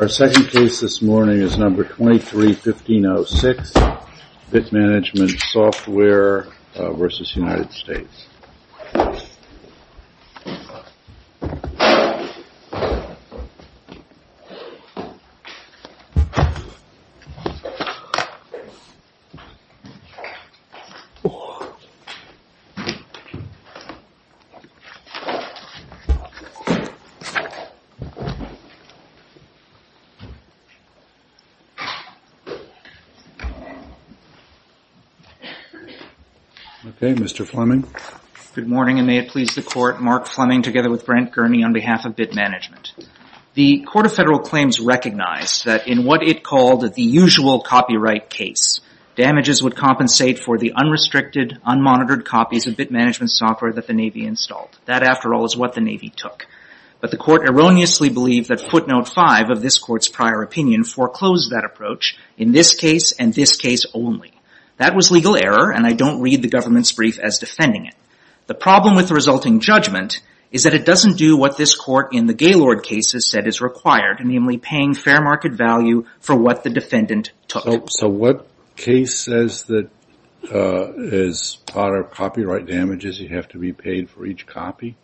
Our second case this morning is number 23-1506, Bitmanagement Software v. United States. Mr. Fleming. Good morning and may it please the Court, Mark Fleming together with Brent Gurney on behalf of Bitmanagement. The Court of Federal Claims recognized that in what it called the usual copyright case, damages would compensate for the unrestricted, unmonitored copies of Bitmanagement Software that the Navy installed. That, after all, is what the Navy took. But the Court erroneously believed that footnote 5 of this Court's prior opinion foreclosed that approach in this case and this case only. That was legal error and I don't read the government's brief as defending it. The problem with the resulting judgment is that it doesn't do what this Court in the Gaylord cases said is required, namely paying fair market value for what the defendant took. So what case says that as part of copyright damages you have to be paid for each copy?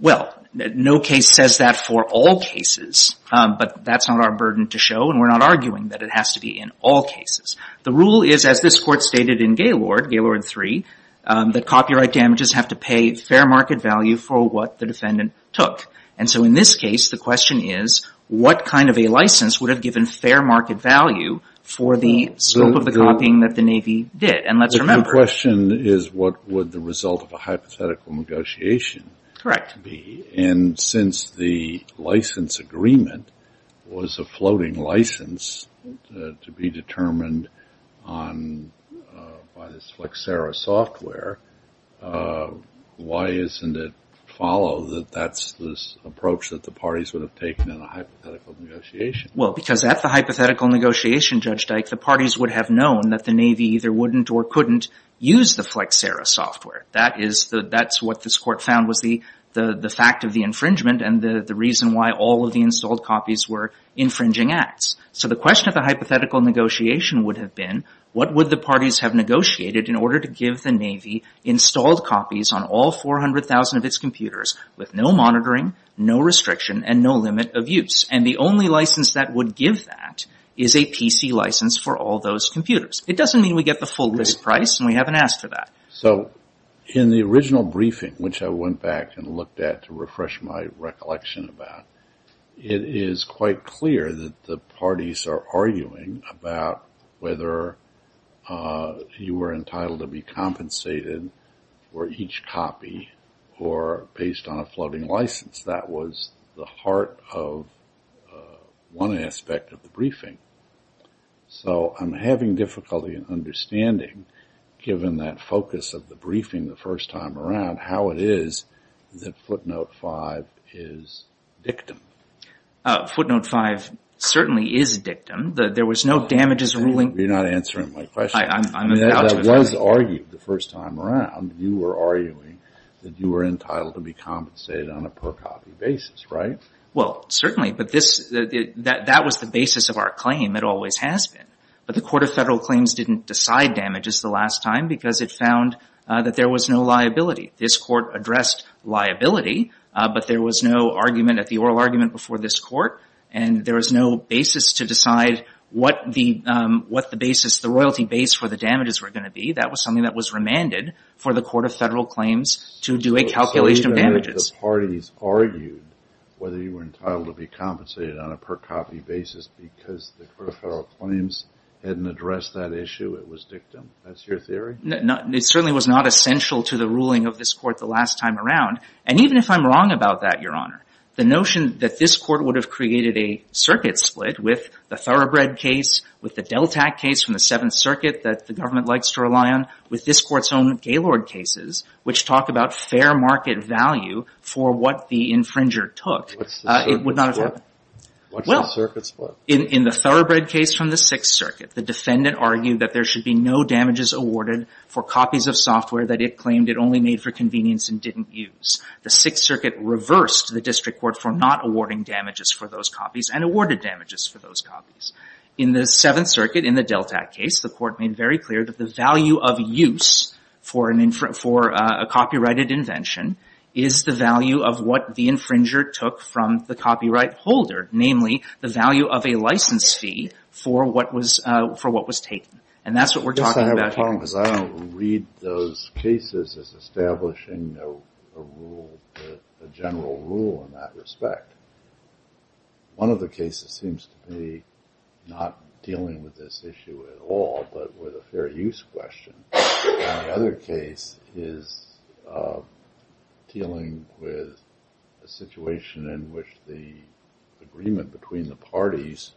Well, no case says that for all cases, but that's not our burden to show and we're not arguing that it has to be in all cases. The rule is, as this Court stated in Gaylord, Gaylord 3, that copyright damages have to pay fair market value for what the defendant took. And so in this case, the question is what kind of a license would have given fair market value for the scope of the copying that the Navy did? And let's remember. The question is what would the result of a hypothetical negotiation be? Correct. And since the license agreement was a floating license to be determined by this Flexera software, why isn't it followed that that's this approach that the parties would have taken in a hypothetical negotiation? Well, because at the hypothetical negotiation, Judge Dyke, the parties would have known that the Navy either wouldn't or couldn't use the Flexera software. That's what this Court found was the fact of the infringement and the reason why all of the installed copies were infringing acts. So the question of the hypothetical negotiation would have been what would the parties have negotiated in order to give the Navy installed copies on all 400,000 of its computers with no monitoring, no restriction, and no limit of use? And the only license that would give that is a PC license for all those computers. It doesn't mean we get the full list price and we haven't asked for that. So in the original briefing, which I went back and looked at to refresh my recollection about, it is quite clear that the parties are arguing about whether you were entitled to be compensated for each copy or based on a floating license. That was the heart of one aspect of the briefing. So I'm having difficulty in understanding, given that focus of the briefing the first time around, how it is that footnote five is dictum. Footnote five certainly is dictum. There was no damages ruling. You're not answering my question. I was argued the first time around. You were arguing that you were entitled to be compensated on a per-copy basis, right? Well, certainly. But that was the basis of our claim. It always has been. But the Court of Federal Claims didn't decide damages the last time because it found that there was no liability. This Court addressed liability, but there was no argument at the oral argument before this Court, and there was no basis to decide what the basis, the royalty base for the damages were going to be. That was something that was remanded for the Court of Federal Claims to do a calculation of damages. So even if the parties argued whether you were entitled to be compensated on a per-copy basis because the Court of Federal Claims hadn't addressed that issue, it was dictum? That's your theory? No. It certainly was not essential to the ruling of this Court the last time around. And even if I'm wrong about that, Your Honor, the notion that this Court would have created a circuit split with the Thoroughbred case, with the Deltac case from the Seventh Circuit that the government likes to rely on, with this Court's own Gaylord cases, which talk about fair market value for what the infringer took, it would not have happened. What's the circuit split? In the Thoroughbred case from the Sixth Circuit, the defendant argued that there should be no damages awarded for copies of software that it claimed it only made for convenience and didn't use. The Sixth Circuit reversed the district court for not awarding damages for those copies and awarded damages for those copies. In the Seventh Circuit, in the Deltac case, the Court made very clear that the value of use for a copyrighted invention is the value of what the infringer took from the copyright holder, namely, the value of a license fee for what was taken. And that's what we're talking about here. I don't read those cases as establishing a rule, a general rule in that respect. One of the cases seems to be not dealing with this issue at all, but with a fair use question. And the other case is dealing with a situation in which the agreement between the parties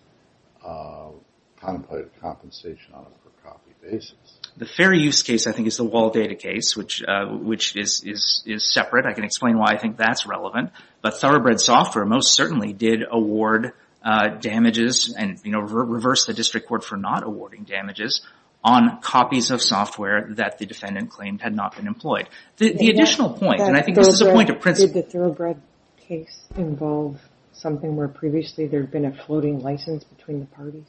contemplated compensation on a per-copy basis. The fair use case, I think, is the Wall Data case, which is separate. I can explain why I think that's relevant. But Thoroughbred Software most certainly did award damages and reversed the district court for not awarding damages on copies of software that the defendant claimed had not been employed. The additional point, and I think this is a point of principle— Did the Thoroughbred case involve something where previously there had been a floating license between the parties?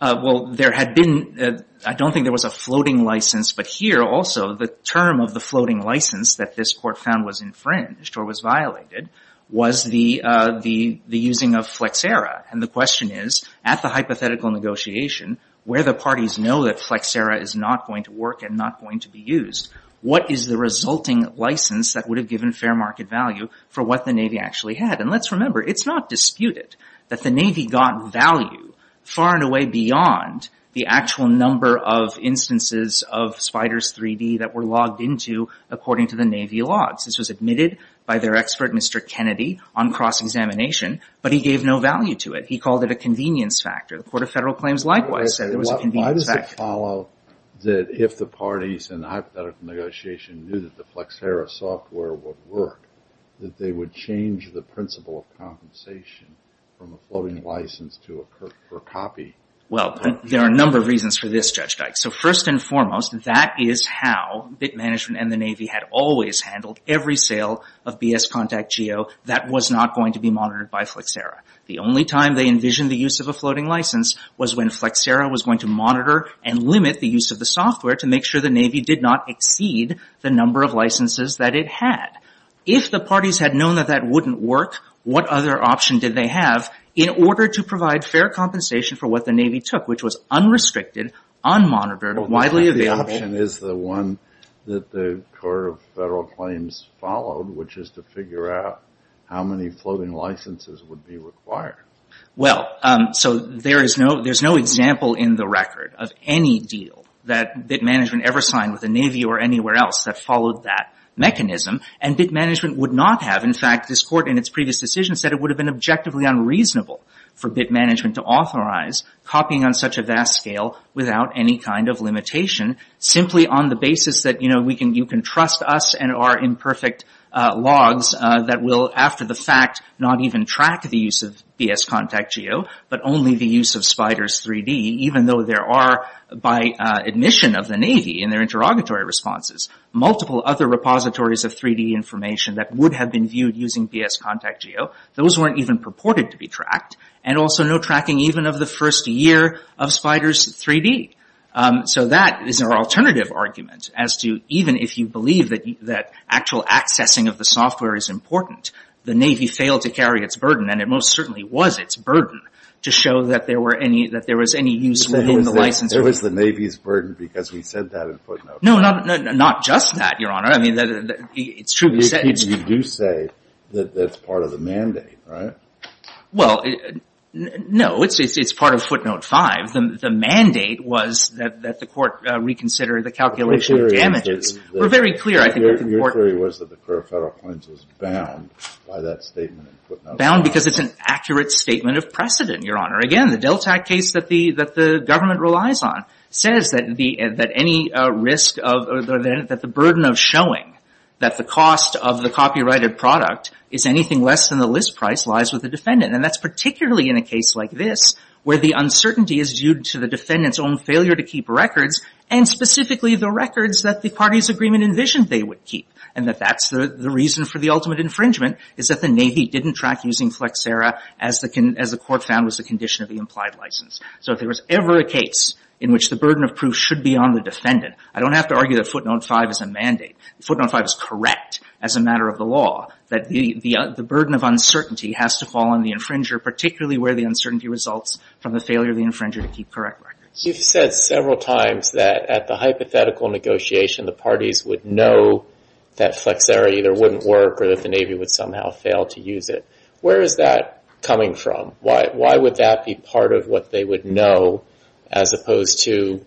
Well, there had been—I don't think there was a floating license, but here also the term of the floating license that this court found was infringed or was violated was the using of Flexera. And the question is, at the hypothetical negotiation, where the parties know that Flexera is not going to work and not going to be used, what is the resulting license that would have given fair market value for what the Navy actually had? And let's remember, it's not disputed that the Navy got value far and away beyond the actual number of instances of SPDRS-3D that were logged into according to the Navy logs. This was admitted by their expert, Mr. Kennedy, on cross-examination, but he gave no value to it. He called it a convenience factor. The Court of Federal Claims likewise said it was a convenience factor. Why does it follow that if the parties in the hypothetical negotiation knew that the Flexera software would work, that they would change the principle of compensation from a floating license to a per-copy? Well, there are a number of reasons for this, Judge Dyke. So first and foremost, that is how Bit Management and the Navy had always handled every sale of BS Contact Geo that was not going to be monitored by Flexera. The only time they envisioned the use of a floating license was when Flexera was going to monitor and limit the use of the software to make sure the Navy did not exceed the number of licenses that it had. If the parties had known that that wouldn't work, what other option did they have in order to provide fair compensation for what the Navy took, which was unrestricted, unmonitored, widely available? Well, the option is the one that the Court of Federal Claims followed, which is to figure out how many floating licenses would be required. Well, so there is no example in the record of any deal that Bit Management ever signed with the Navy or anywhere else that followed that mechanism, and Bit Management would not have. In fact, this Court in its previous decision said it would have been objectively unreasonable for Bit Management to authorize copying on such a vast scale without any kind of limitation, simply on the basis that, you know, you can trust us and our imperfect logs that will, after the fact, not even track the use of BS Contact Geo, but only the use of SPDRS-3D, even though there are, by admission of the Navy in their interrogatory responses, multiple other repositories of 3D information that would have been viewed using BS Contact Geo. Those weren't even purported to be tracked, and also no tracking even of the first year of SPDRS-3D. So that is our alternative argument as to even if you believe that actual accessing of the software is important, the Navy failed to carry its burden, and it most certainly was its burden, to show that there were any, that there was any use within the license agreement. It was the Navy's burden because we said that in Footnote 5. No, not just that, Your Honor. I mean, it's truly said. You do say that that's part of the mandate, right? Well, no. It's part of Footnote 5. The mandate was that the Court reconsider the calculation of damages. We're very clear, I think, that the Court of Federal Claims was bound by that statement in Footnote 5. Bound because it's an accurate statement of precedent, Your Honor. Again, the Delta Act case that the government relies on says that any risk of, or that the burden of showing that the cost of the copyrighted product is anything less than the list price lies with the defendant. And that's particularly in a case like this, where the uncertainty is due to the defendant's own failure to keep records, and specifically the records that the party's agreement envisioned they would keep. And that that's the reason for the ultimate infringement is that the Navy didn't track using Flexera as the Court found was the condition of the implied license. So if there was ever a case in which the burden of proof should be on the defendant, I don't have to argue that Footnote 5 is a mandate. Footnote 5 is correct as a matter of the law, that the burden of uncertainty has to fall on the infringer, particularly where the uncertainty results from the failure of the infringer to keep correct records. You've said several times that at the hypothetical negotiation, the parties would know that Flexera either wouldn't work or that the Navy would somehow fail to use it. Where is that coming from? Why would that be part of what they would know, as opposed to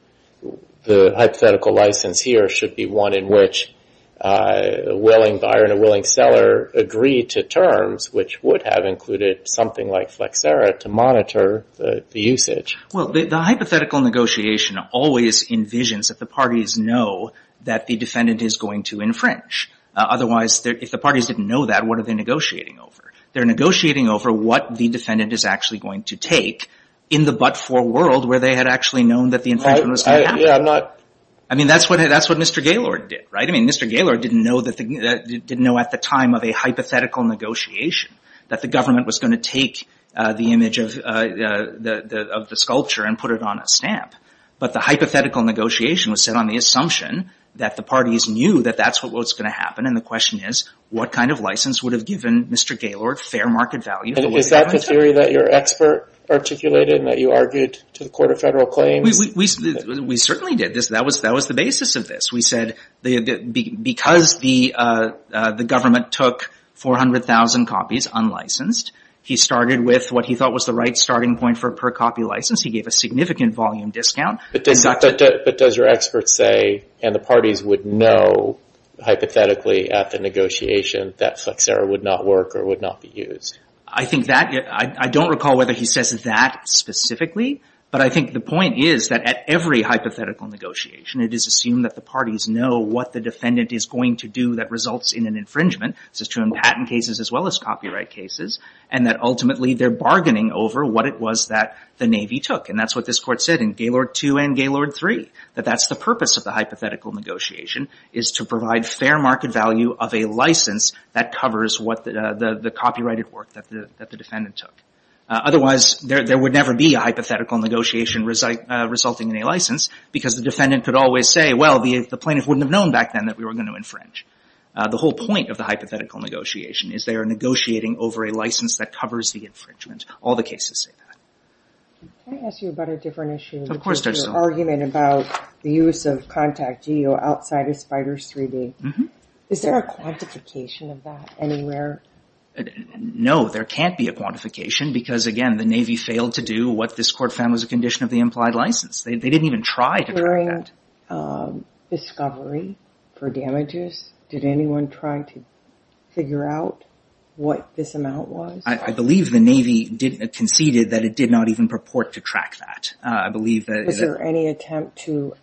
the hypothetical license here should be one in which a willing buyer and a willing seller agree to terms, which would have included something like Flexera to monitor the usage? Well, the hypothetical negotiation always envisions that the parties know that the defendant is going to infringe. Otherwise, if the parties didn't know that, what are they negotiating over? They're negotiating over what the defendant is actually going to take in the but-for world where they had actually known that the infringement was going to happen. I mean, that's what Mr. Gaylord did, right? I mean, Mr. Gaylord didn't know at the time of a hypothetical negotiation that the government was going to take the image of the sculpture and put it on a stamp. But the hypothetical negotiation was set on the assumption that the parties knew that that's what was going to happen. And the question is, what kind of license would have given Mr. Gaylord fair market value? Is that the theory that your expert articulated and that you argued to the Court of Federal Claims? We certainly did this. That was the basis of this. We said because the government took 400,000 copies unlicensed, he started with what he thought was the right starting point for per-copy license. He gave a significant volume discount. But does your expert say, and the parties would know hypothetically at the negotiation that Flexera would not work or would not be used? I think that, I don't recall whether he says that specifically, but I think the point is that at every hypothetical negotiation, it is assumed that the parties know what the defendant is going to do that results in an infringement. This is true in patent cases as well as copyright cases. And that ultimately, they're bargaining over what it was that the Navy took. And that's what this Court said in Gaylord 2 and Gaylord 3, that that's the purpose of the hypothetical negotiation is to provide fair market value of a license that covers what the copyrighted work that the defendant took. Otherwise, there would never be a hypothetical negotiation resulting in a license because the defendant could always say, well, the plaintiff wouldn't have known back then that we were going to infringe. The whole point of the hypothetical negotiation is they are negotiating over a license that covers the infringement. All the cases say that. Can I ask you about a different issue? Of course, there's some. There's an argument about the use of Contact Geo outside of Spiders 3D. Is there a quantification of that anywhere? No, there can't be a quantification because again, the Navy failed to do what this Court found was a condition of the implied license. They didn't even try to try. Was there a concurring discovery for damages? Did anyone try to figure out what this amount was? I believe the Navy conceded that it did not even purport to track that. I believe that... Was there any attempt to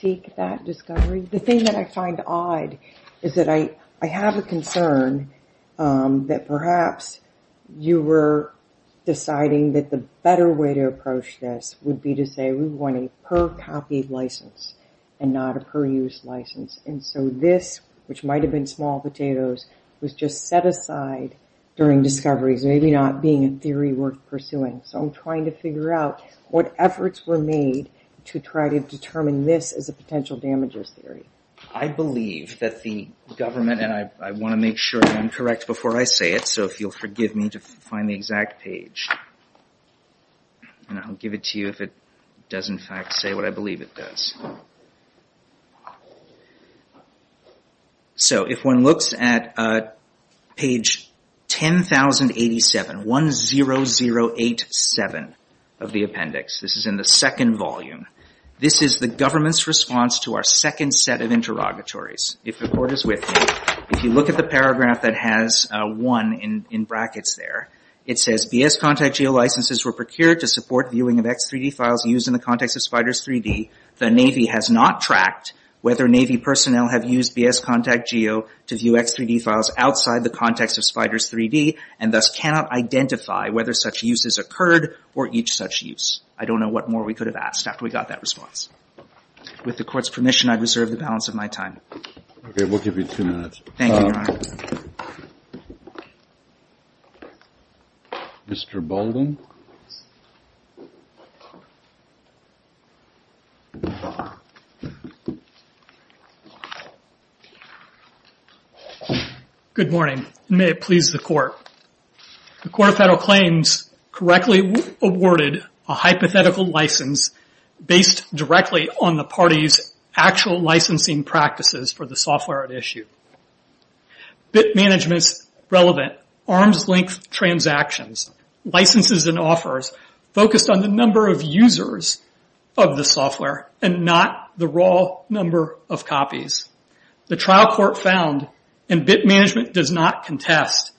seek that discovery? The thing that I find odd is that I have a concern that perhaps you were deciding that the better way to approach this would be to say we want a per-copy license and not a per-use license. This, which might have been small potatoes, was just set aside during discoveries, maybe not being a theory worth pursuing. I'm trying to figure out what efforts were made to try to determine this as a potential damages theory. I believe that the government, and I want to make sure I'm correct before I say it, so if you'll forgive me to find the exact page. I'll give it to you if it does, in fact, say what I believe it does. If one looks at page 10,087, 1-0-0-8-7 of the appendix, this is in the second volume. This is the government's response to our second set of interrogatories. If the Court is with me, if you look at the paragraph that has 1 in brackets there, it says, B.S. Contact Geo licenses were procured to support viewing of X3D files used in the context of SPDRS-3D. The Navy has not tracked whether Navy personnel have used B.S. Contact Geo to view X3D files outside the context of SPDRS-3D and thus cannot identify whether such use has occurred or each such use. I don't know what more we could have asked after we got that response. With the Court's permission, I reserve the balance of my time. Okay, we'll give you two minutes. Thank you, Your Honor. Mr. Bolden? Good morning, and may it please the Court. The Court of Federal Claims correctly awarded a hypothetical license based directly on the party's actual licensing practices for the software at issue. Bit management's relevant arms-length transactions, licenses, and offers focused on the number of users of the software and not the raw number of copies. The trial court found, and Bit Management does not contest,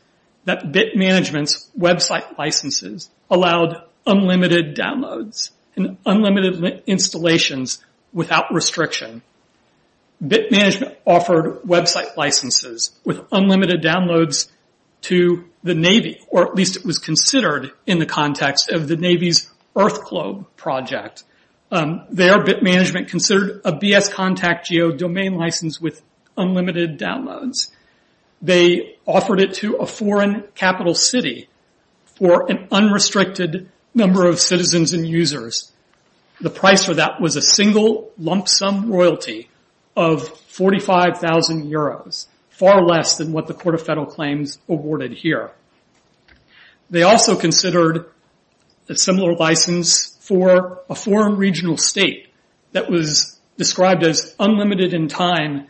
that Bit Management's website licenses allowed unlimited downloads and unlimited installations without restriction. Bit Management offered website licenses with unlimited downloads to the Navy, or at least it was considered in the context of the Navy's EarthClobe project. There, Bit Management considered a B.S. Contact Geo domain license with unlimited downloads. They offered it to a foreign capital city for an unrestricted number of citizens and users. The price for that was a single lump sum royalty of 45,000 Euros, far less than what the Court of Federal Claims awarded here. They also considered a similar license for a foreign regional state that was described as unlimited in time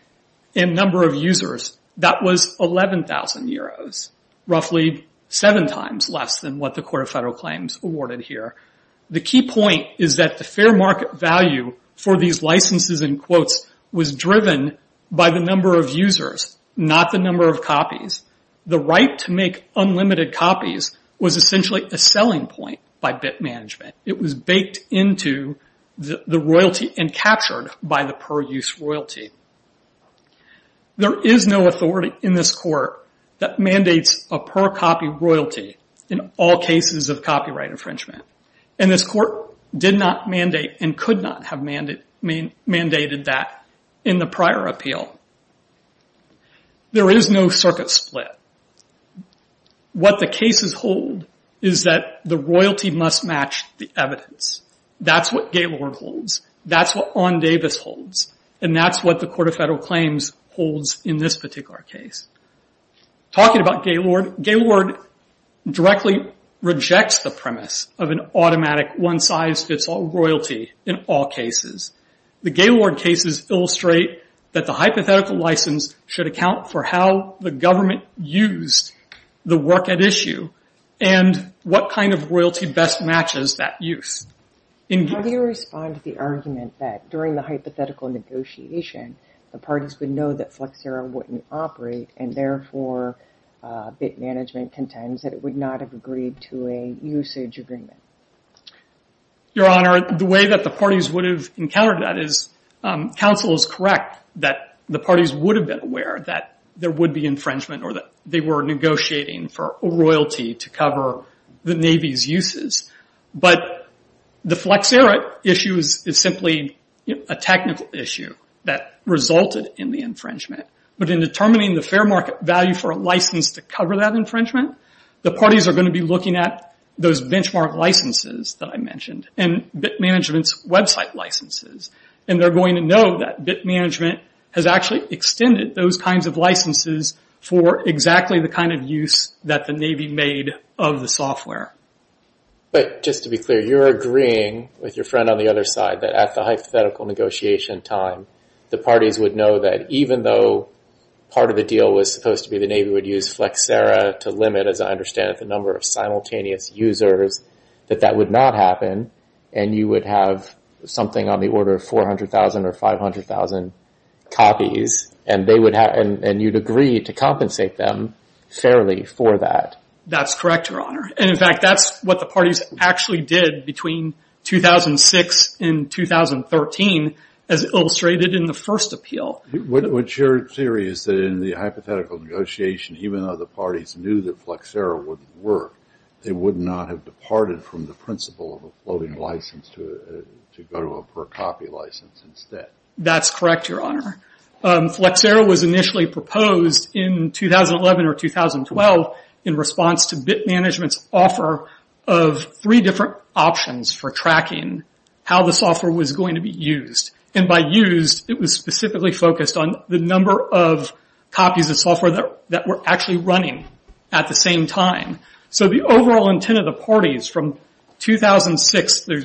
and number of users. That was 11,000 Euros, roughly seven times less than what the Court of Federal Claims awarded here. The key point is that the fair market value for these licenses and quotes was driven by the number of users, not the number of copies. The right to make unlimited copies was essentially a selling point by Bit Management. It was baked into the royalty and captured by the per-use royalty. There is no authority in this court that mandates a per-copy royalty in all cases of copyright infringement. This court did not mandate and could not have mandated that in the prior appeal. There is no circuit split. What the cases hold is that the royalty must be kept and must match the evidence. That's what Gaylord holds. That's what Ondavis holds. That's what the Court of Federal Claims holds in this particular case. Talking about Gaylord, Gaylord directly rejects the premise of an automatic one size fits all royalty in all cases. The Gaylord cases illustrate that the hypothetical license should account for how the government used the work at issue and what kind of royalty best matches that use. How do you respond to the argument that during the hypothetical negotiation the parties would know that Flexera wouldn't operate and therefore Bit Management contends that it would not have agreed to a usage agreement? Your Honor, the way that the parties would have encountered that is counsel is correct that the parties would have been aware that there would be infringement or that they were negotiating for royalty to cover the Navy's uses. The Flexera issue is simply a technical issue that resulted in the infringement. In determining the fair market value for a license to cover that infringement, the parties are going to be looking at those benchmark licenses that I mentioned and Bit Management's website licenses. They're going to know that Bit Management has actually extended those kinds of licenses for exactly the kind of use that the Navy made of the software. Just to be clear, you're agreeing with your friend on the other side that at the hypothetical negotiation time, the parties would know that even though part of the deal was supposed to be the Navy would use Flexera to limit, as I understand it, the number of simultaneous users, that that would not happen and you would have something on the order of 400,000 or 500,000 copies and you'd agree to compensate them fairly for that. That's correct, Your Honor. In fact, that's what the parties actually did between 2006 and 2013 as illustrated in the first appeal. What's your theory is that in the hypothetical negotiation, even though the parties knew that Flexera wouldn't work, they would not have departed from the principle of a floating license to go to a per copy license instead. That's correct, Your Honor. Flexera was initially proposed in 2011 or 2012 in response to Bit Management's offer of three different options for tracking how the software was going to be used. By used, it was specifically focused on the number of copies of software that were actually running at the same time. The overall intent of the parties from 2006 through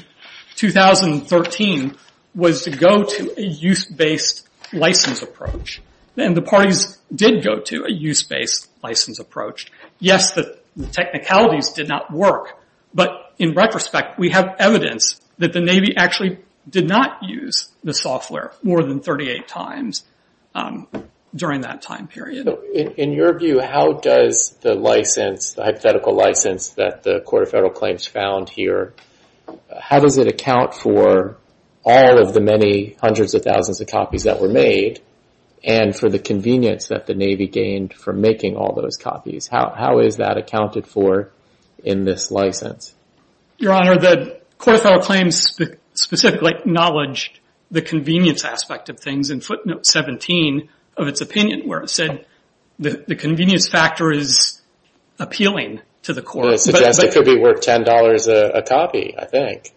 2013 was to go to a use-based license approach. The parties did go to a use-based license approach. Yes, the technicalities did not work, but in retrospect, we have evidence that the Navy actually did not use the software more than 38 times during that time period. In your view, how does the hypothetical license that the Court of Federal Claims found here, how does it account for all of the many hundreds of thousands of copies that were made and for the convenience that the Navy gained from making all those copies? How is that accounted for in this license? Your Honor, the Court of Federal Claims specifically acknowledged the convenience aspect of things in footnote 17 of its opinion, where it said the convenience factor is appealing to the It suggests it could be worth $10 a copy, I think.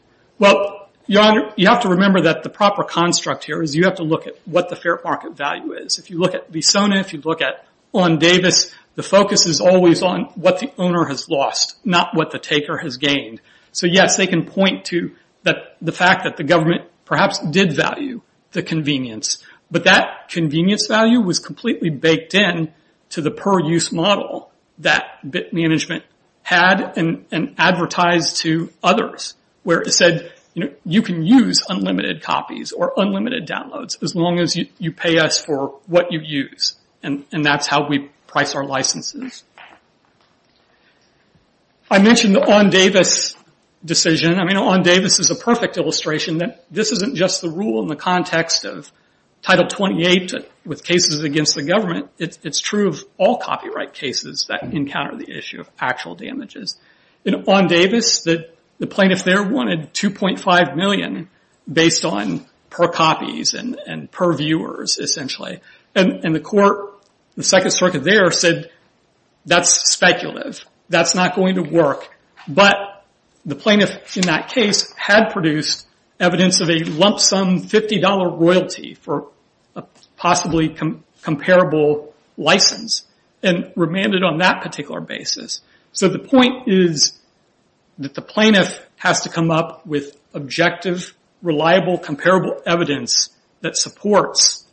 Your Honor, you have to remember that the proper construct here is you have to look at what the fair market value is. If you look at Visauna, if you look at Law & Davis, the focus is always on what the owner has lost, not what the taker has gained. Yes, they can point to the fact that the government perhaps did value the convenience, but that convenience value was completely baked in to the per-use model that management had and advertised to others where it said, you can use unlimited copies or unlimited downloads as long as you pay us for what you use. That's how we price our licenses. I mentioned the On Davis decision. On Davis is a perfect illustration that this isn't just the rule in the context of Title 28 with cases against the government. It's true of all copyright cases that encounter the issue of actual damages. On Davis, the plaintiffs there wanted $2.5 million based on per copies and per viewers, essentially. The court, the plaintiff, that's speculative. That's not going to work, but the plaintiff in that case had produced evidence of a lump sum $50 royalty for a possibly comparable license and remanded on that particular basis. The point is that the plaintiff has to come up with objective, reliable, comparable evidence that supports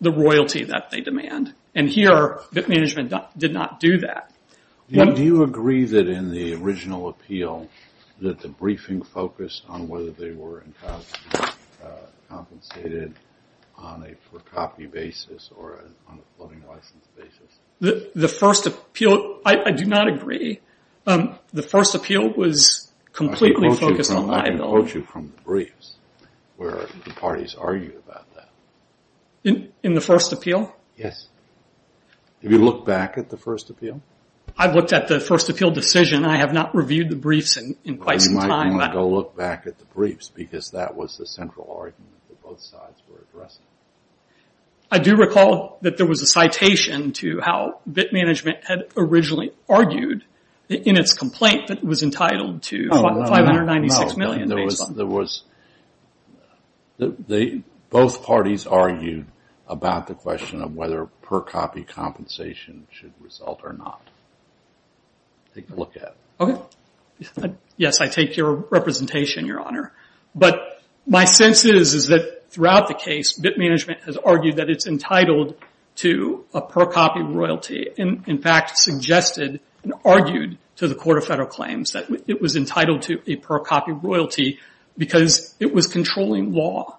the royalty that they demand. Here, the management did not do that. Do you agree that in the original appeal that the briefing focused on whether they were compensated on a per-copy basis or on a floating license basis? I do not agree. The first appeal was completely focused on liability. I can quote you from the briefs where the parties argued about that. In the first appeal? Yes. Have you looked back at the first appeal? I've looked at the first appeal decision. I have not reviewed the briefs in quite some time. You might need to look back at the briefs because that was the central argument that both sides were addressing. I do recall that there was a citation to how BIT Management had originally argued in its complaint that it was entitled to $596 million based on... Both parties argued about the question of whether per-copy compensation should result or not. Take a look at it. Yes, I take your representation, Your Honor. My sense is that throughout the case, BIT Management has argued that it's entitled to a per-copy royalty. In fact, it suggested and argued to the Court of Federal Claims that it was entitled to a per-copy royalty because it was controlling law.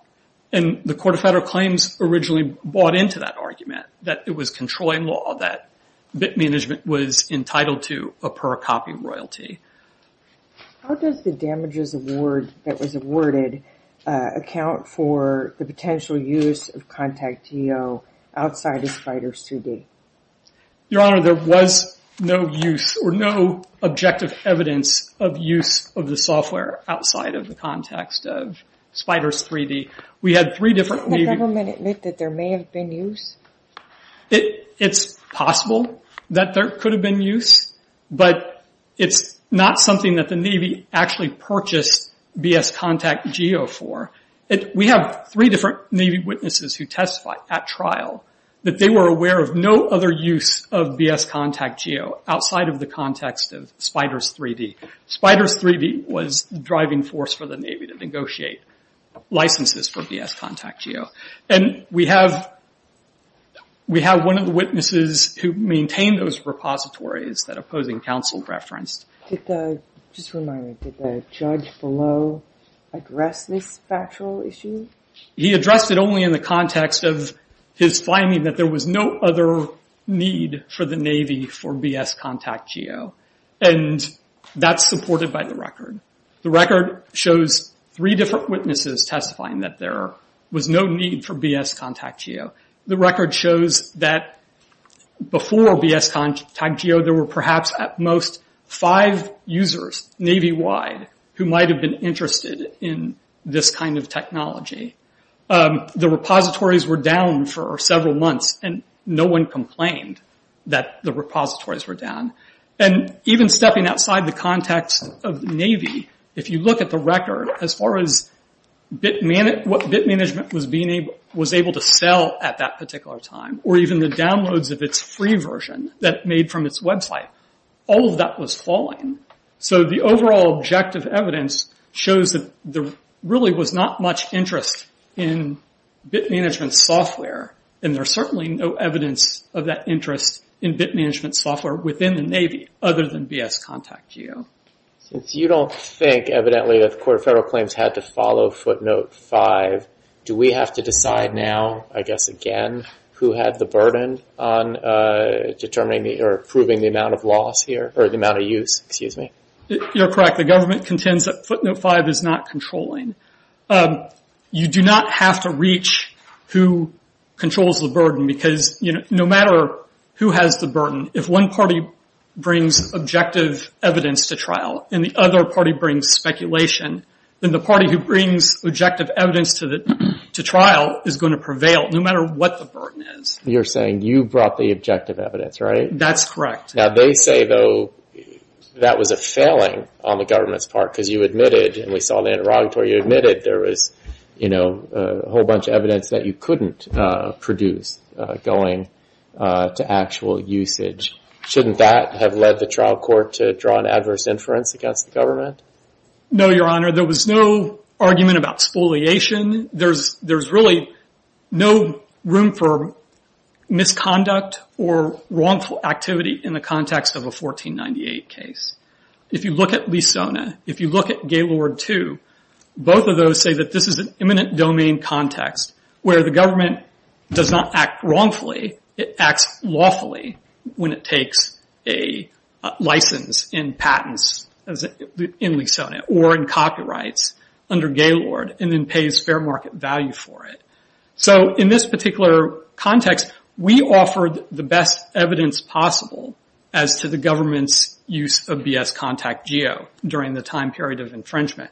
The Court of Federal Claims originally bought into that argument that it was controlling law, that BIT Management was entitled to a per-copy royalty. How does the damages that was awarded account for the potential use of ContactEO outside of FIDR's 2D? Your Honor, there was no use or no objective evidence of use of the software outside of the context of FIDR's 3D. We had three different... Didn't the government admit that there may have been use? It's possible that there could have been use, but it's not something that the Navy actually purchased BS ContactEO for. We have three different Navy witnesses who testified at trial that they were aware of no other use of BS ContactEO outside of the context of FIDR's 3D. FIDR's 3D was the driving force for the Navy to negotiate licenses for BS ContactEO. We have one of the witnesses who maintained those repositories that opposing counsel referenced. Just a reminder, did the judge below address this factual issue? He addressed it only in the context of his finding that there was no other need for the Navy for BS ContactEO. That's supported by the record. The record shows three different witnesses testifying that there was no need for BS ContactEO. The record shows that before BS ContactEO, there were perhaps at most five users Navy wide who might have been interested in this kind of technology. The repositories were down for several months, and no one complained that the repositories were down. Even stepping outside the context of the Navy, if you look at the record, as far as what bit management was able to sell at that particular time, or even the downloads of its free version that made from its website, all of that was falling. The overall objective evidence shows that there really was not much interest in bit management software. There's certainly no evidence of that interest in bit management software within the Navy other than BS ContactEO. Since you don't think evidently that the Court of Federal Claims had to follow footnote five, do we have to decide now, I guess again, who had the burden on determining or proving the amount of use? You're correct. The government contends that footnote five is not controlling. You do not have to reach who controls the burden, because no matter who has the burden, if one party brings objective evidence to trial, and the other party brings speculation, then the party who brings objective evidence to trial is going to prevail, no matter what the burden is. You're saying you brought the objective evidence, right? That's correct. They say, though, that was a failing on the government's part, because you admitted, and we saw in the interrogatory, you admitted there was a whole bunch of evidence that you couldn't produce going to actual usage. Shouldn't that have led the trial court to draw an adverse inference against the government? No, Your Honor. There was no argument about spoliation. There's really no room for misconduct or wrongful activity in the context of a 1498 case. If you look at Lisona, if you look at Gaylord II, both of those say that this is an imminent domain context, where the government does not act wrongfully, it acts lawfully when it takes a license in patents in Lisona, or in copyrights under Gaylord, and then pays a spare market value for it. In this particular context, we offered the best evidence possible as to the government's use of BS Contact Geo during the time period of infringement.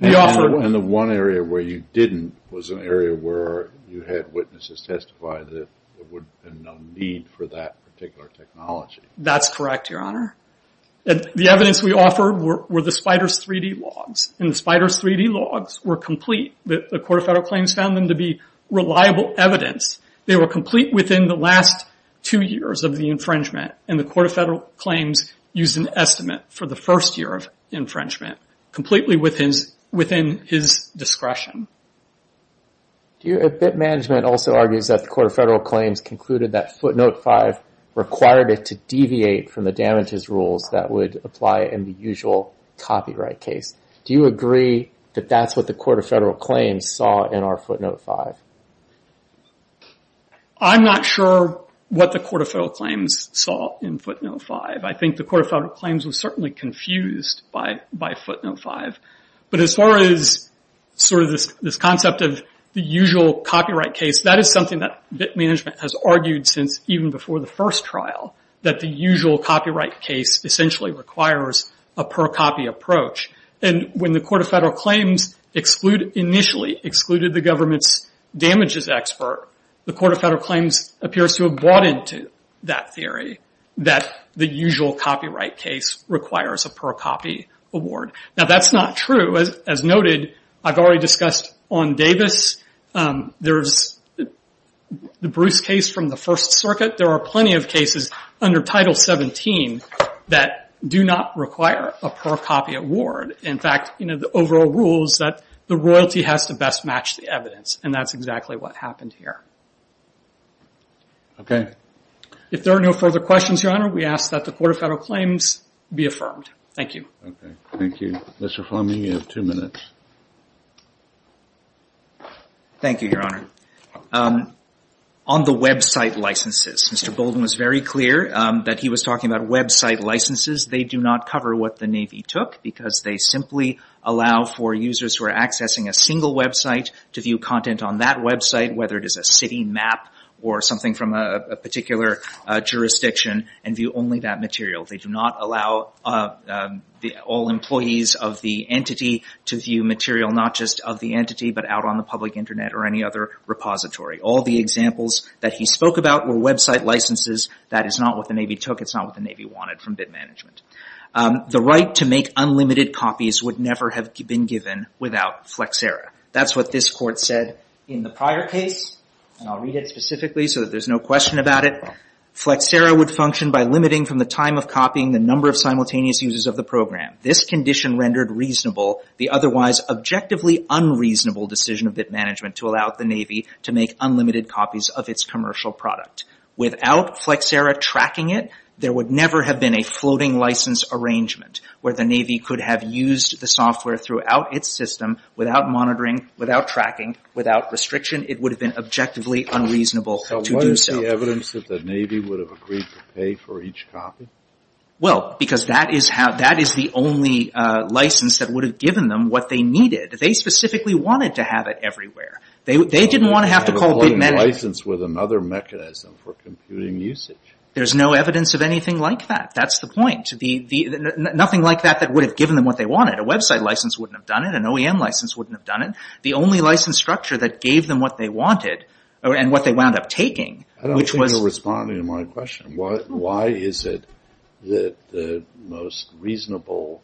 The one area where you didn't was an area where you had witnesses testify that there would have been no need for that particular technology. That's correct, Your Honor. The evidence we offered were the Spyder's 3D logs, and the Spyder's 3D logs were complete. The Court of Federal Claims found them to be reliable evidence. They were complete within the last two years of the infringement, and the Court of Federal Claims used an estimate for the first year of infringement, completely within his discretion. A bit management also argues that the Court of Federal Claims concluded that footnote five required it to deviate from the damages rules that would apply in the usual copyright case. Do you agree that that's what the Court of Federal Claims saw in our footnote five? I'm not sure what the Court of Federal Claims saw in footnote five. I think the Court of Federal Claims was certainly confused by footnote five. As far as this concept of the usual copyright case, that is something that bit management has argued since even before the first trial, that the usual copyright case essentially requires a per-copy approach. When the Court of Federal Claims initially excluded the government's damages expert, the Court of Federal Claims appears to have bought into that theory, that the usual copyright case requires a per-copy award. That's not true. As noted, I've already discussed on Davis. There's the Bruce case from the First Circuit. There are plenty of cases under Title 17 that do not require a per-copy award. In fact, the overall rule is that the royalty has to best match the evidence. That's exactly what happened here. If there are no further questions, Your Honor, we ask that the Court of Federal Claims be affirmed. Thank you. Thank you. Mr. Fleming, you have two minutes. Thank you, Your Honor. On the website licenses, Mr. Bolden was very clear that he was talking about website licenses. They do not cover what the Navy took because they simply allow for users who are accessing a single website to view content on that website, whether it is a city map or something from a particular jurisdiction, and view only that material. They do not allow all employees of the entity to view material not just of the entity but out on the public internet or any other repository. All the examples that he spoke about were website licenses. That is not what the Navy took. It's not what the Navy wanted from bid management. The right to make unlimited copies would never have been given without Flexera. That's what this Court said in the prior case, and I'll read it specifically so that there's no question about it. Flexera would function by limiting from the time of copying the number of simultaneous uses of the program. This condition rendered reasonable the otherwise objectively unreasonable decision of bid management to allow the Navy to make unlimited copies of its commercial product. Without Flexera tracking it, there would never have been a floating license arrangement where the Navy could have used the software throughout its system without monitoring, without tracking, without restriction. It would have been objectively unreasonable to do so. Is there any evidence that the Navy would have agreed to pay for each copy? Well, because that is the only license that would have given them what they needed. They specifically wanted to have it everywhere. They didn't want to have to call bid management. They would have a floating license with another mechanism for computing usage. There's no evidence of anything like that. That's the point. Nothing like that that would have given them what they wanted. A website license wouldn't have done it. An OEM license wouldn't have done it. The only license structure that gave them what they wanted and what they wound up taking, which was... I don't think you're responding to my question. Why is it that the most reasonable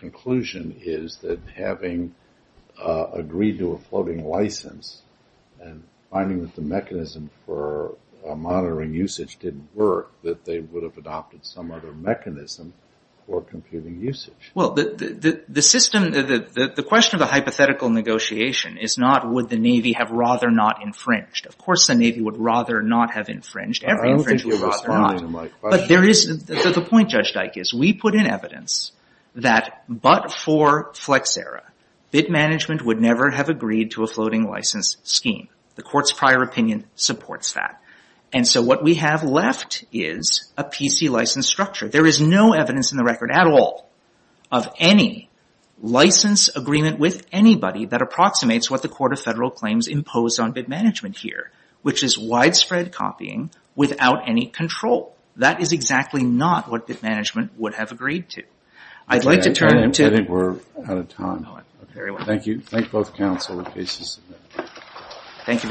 conclusion is that having agreed to a floating license and finding that the mechanism for monitoring usage didn't work, that they would have adopted some other mechanism for computing usage? Well, the question of the hypothetical negotiation is not would the Navy have rather not infringed. Of course the Navy would rather not have infringed. Every infringement was fought. I don't think you're responding to my question. But there is... The point, Judge Dike, is we put in evidence that but for Flexera, bid management would never have agreed to a floating license scheme. The court's prior opinion supports that. And so what we have left is a PC license structure. There is no evidence in the record at all of any license agreement with anybody that approximates what the Court of Federal Claims imposed on bid management here, which is widespread copying without any control. That is exactly not what bid management would have agreed to. I'd like to turn to... I think we're out of time. Very well. Thank you. Thank both counsel and cases. Thank you very much.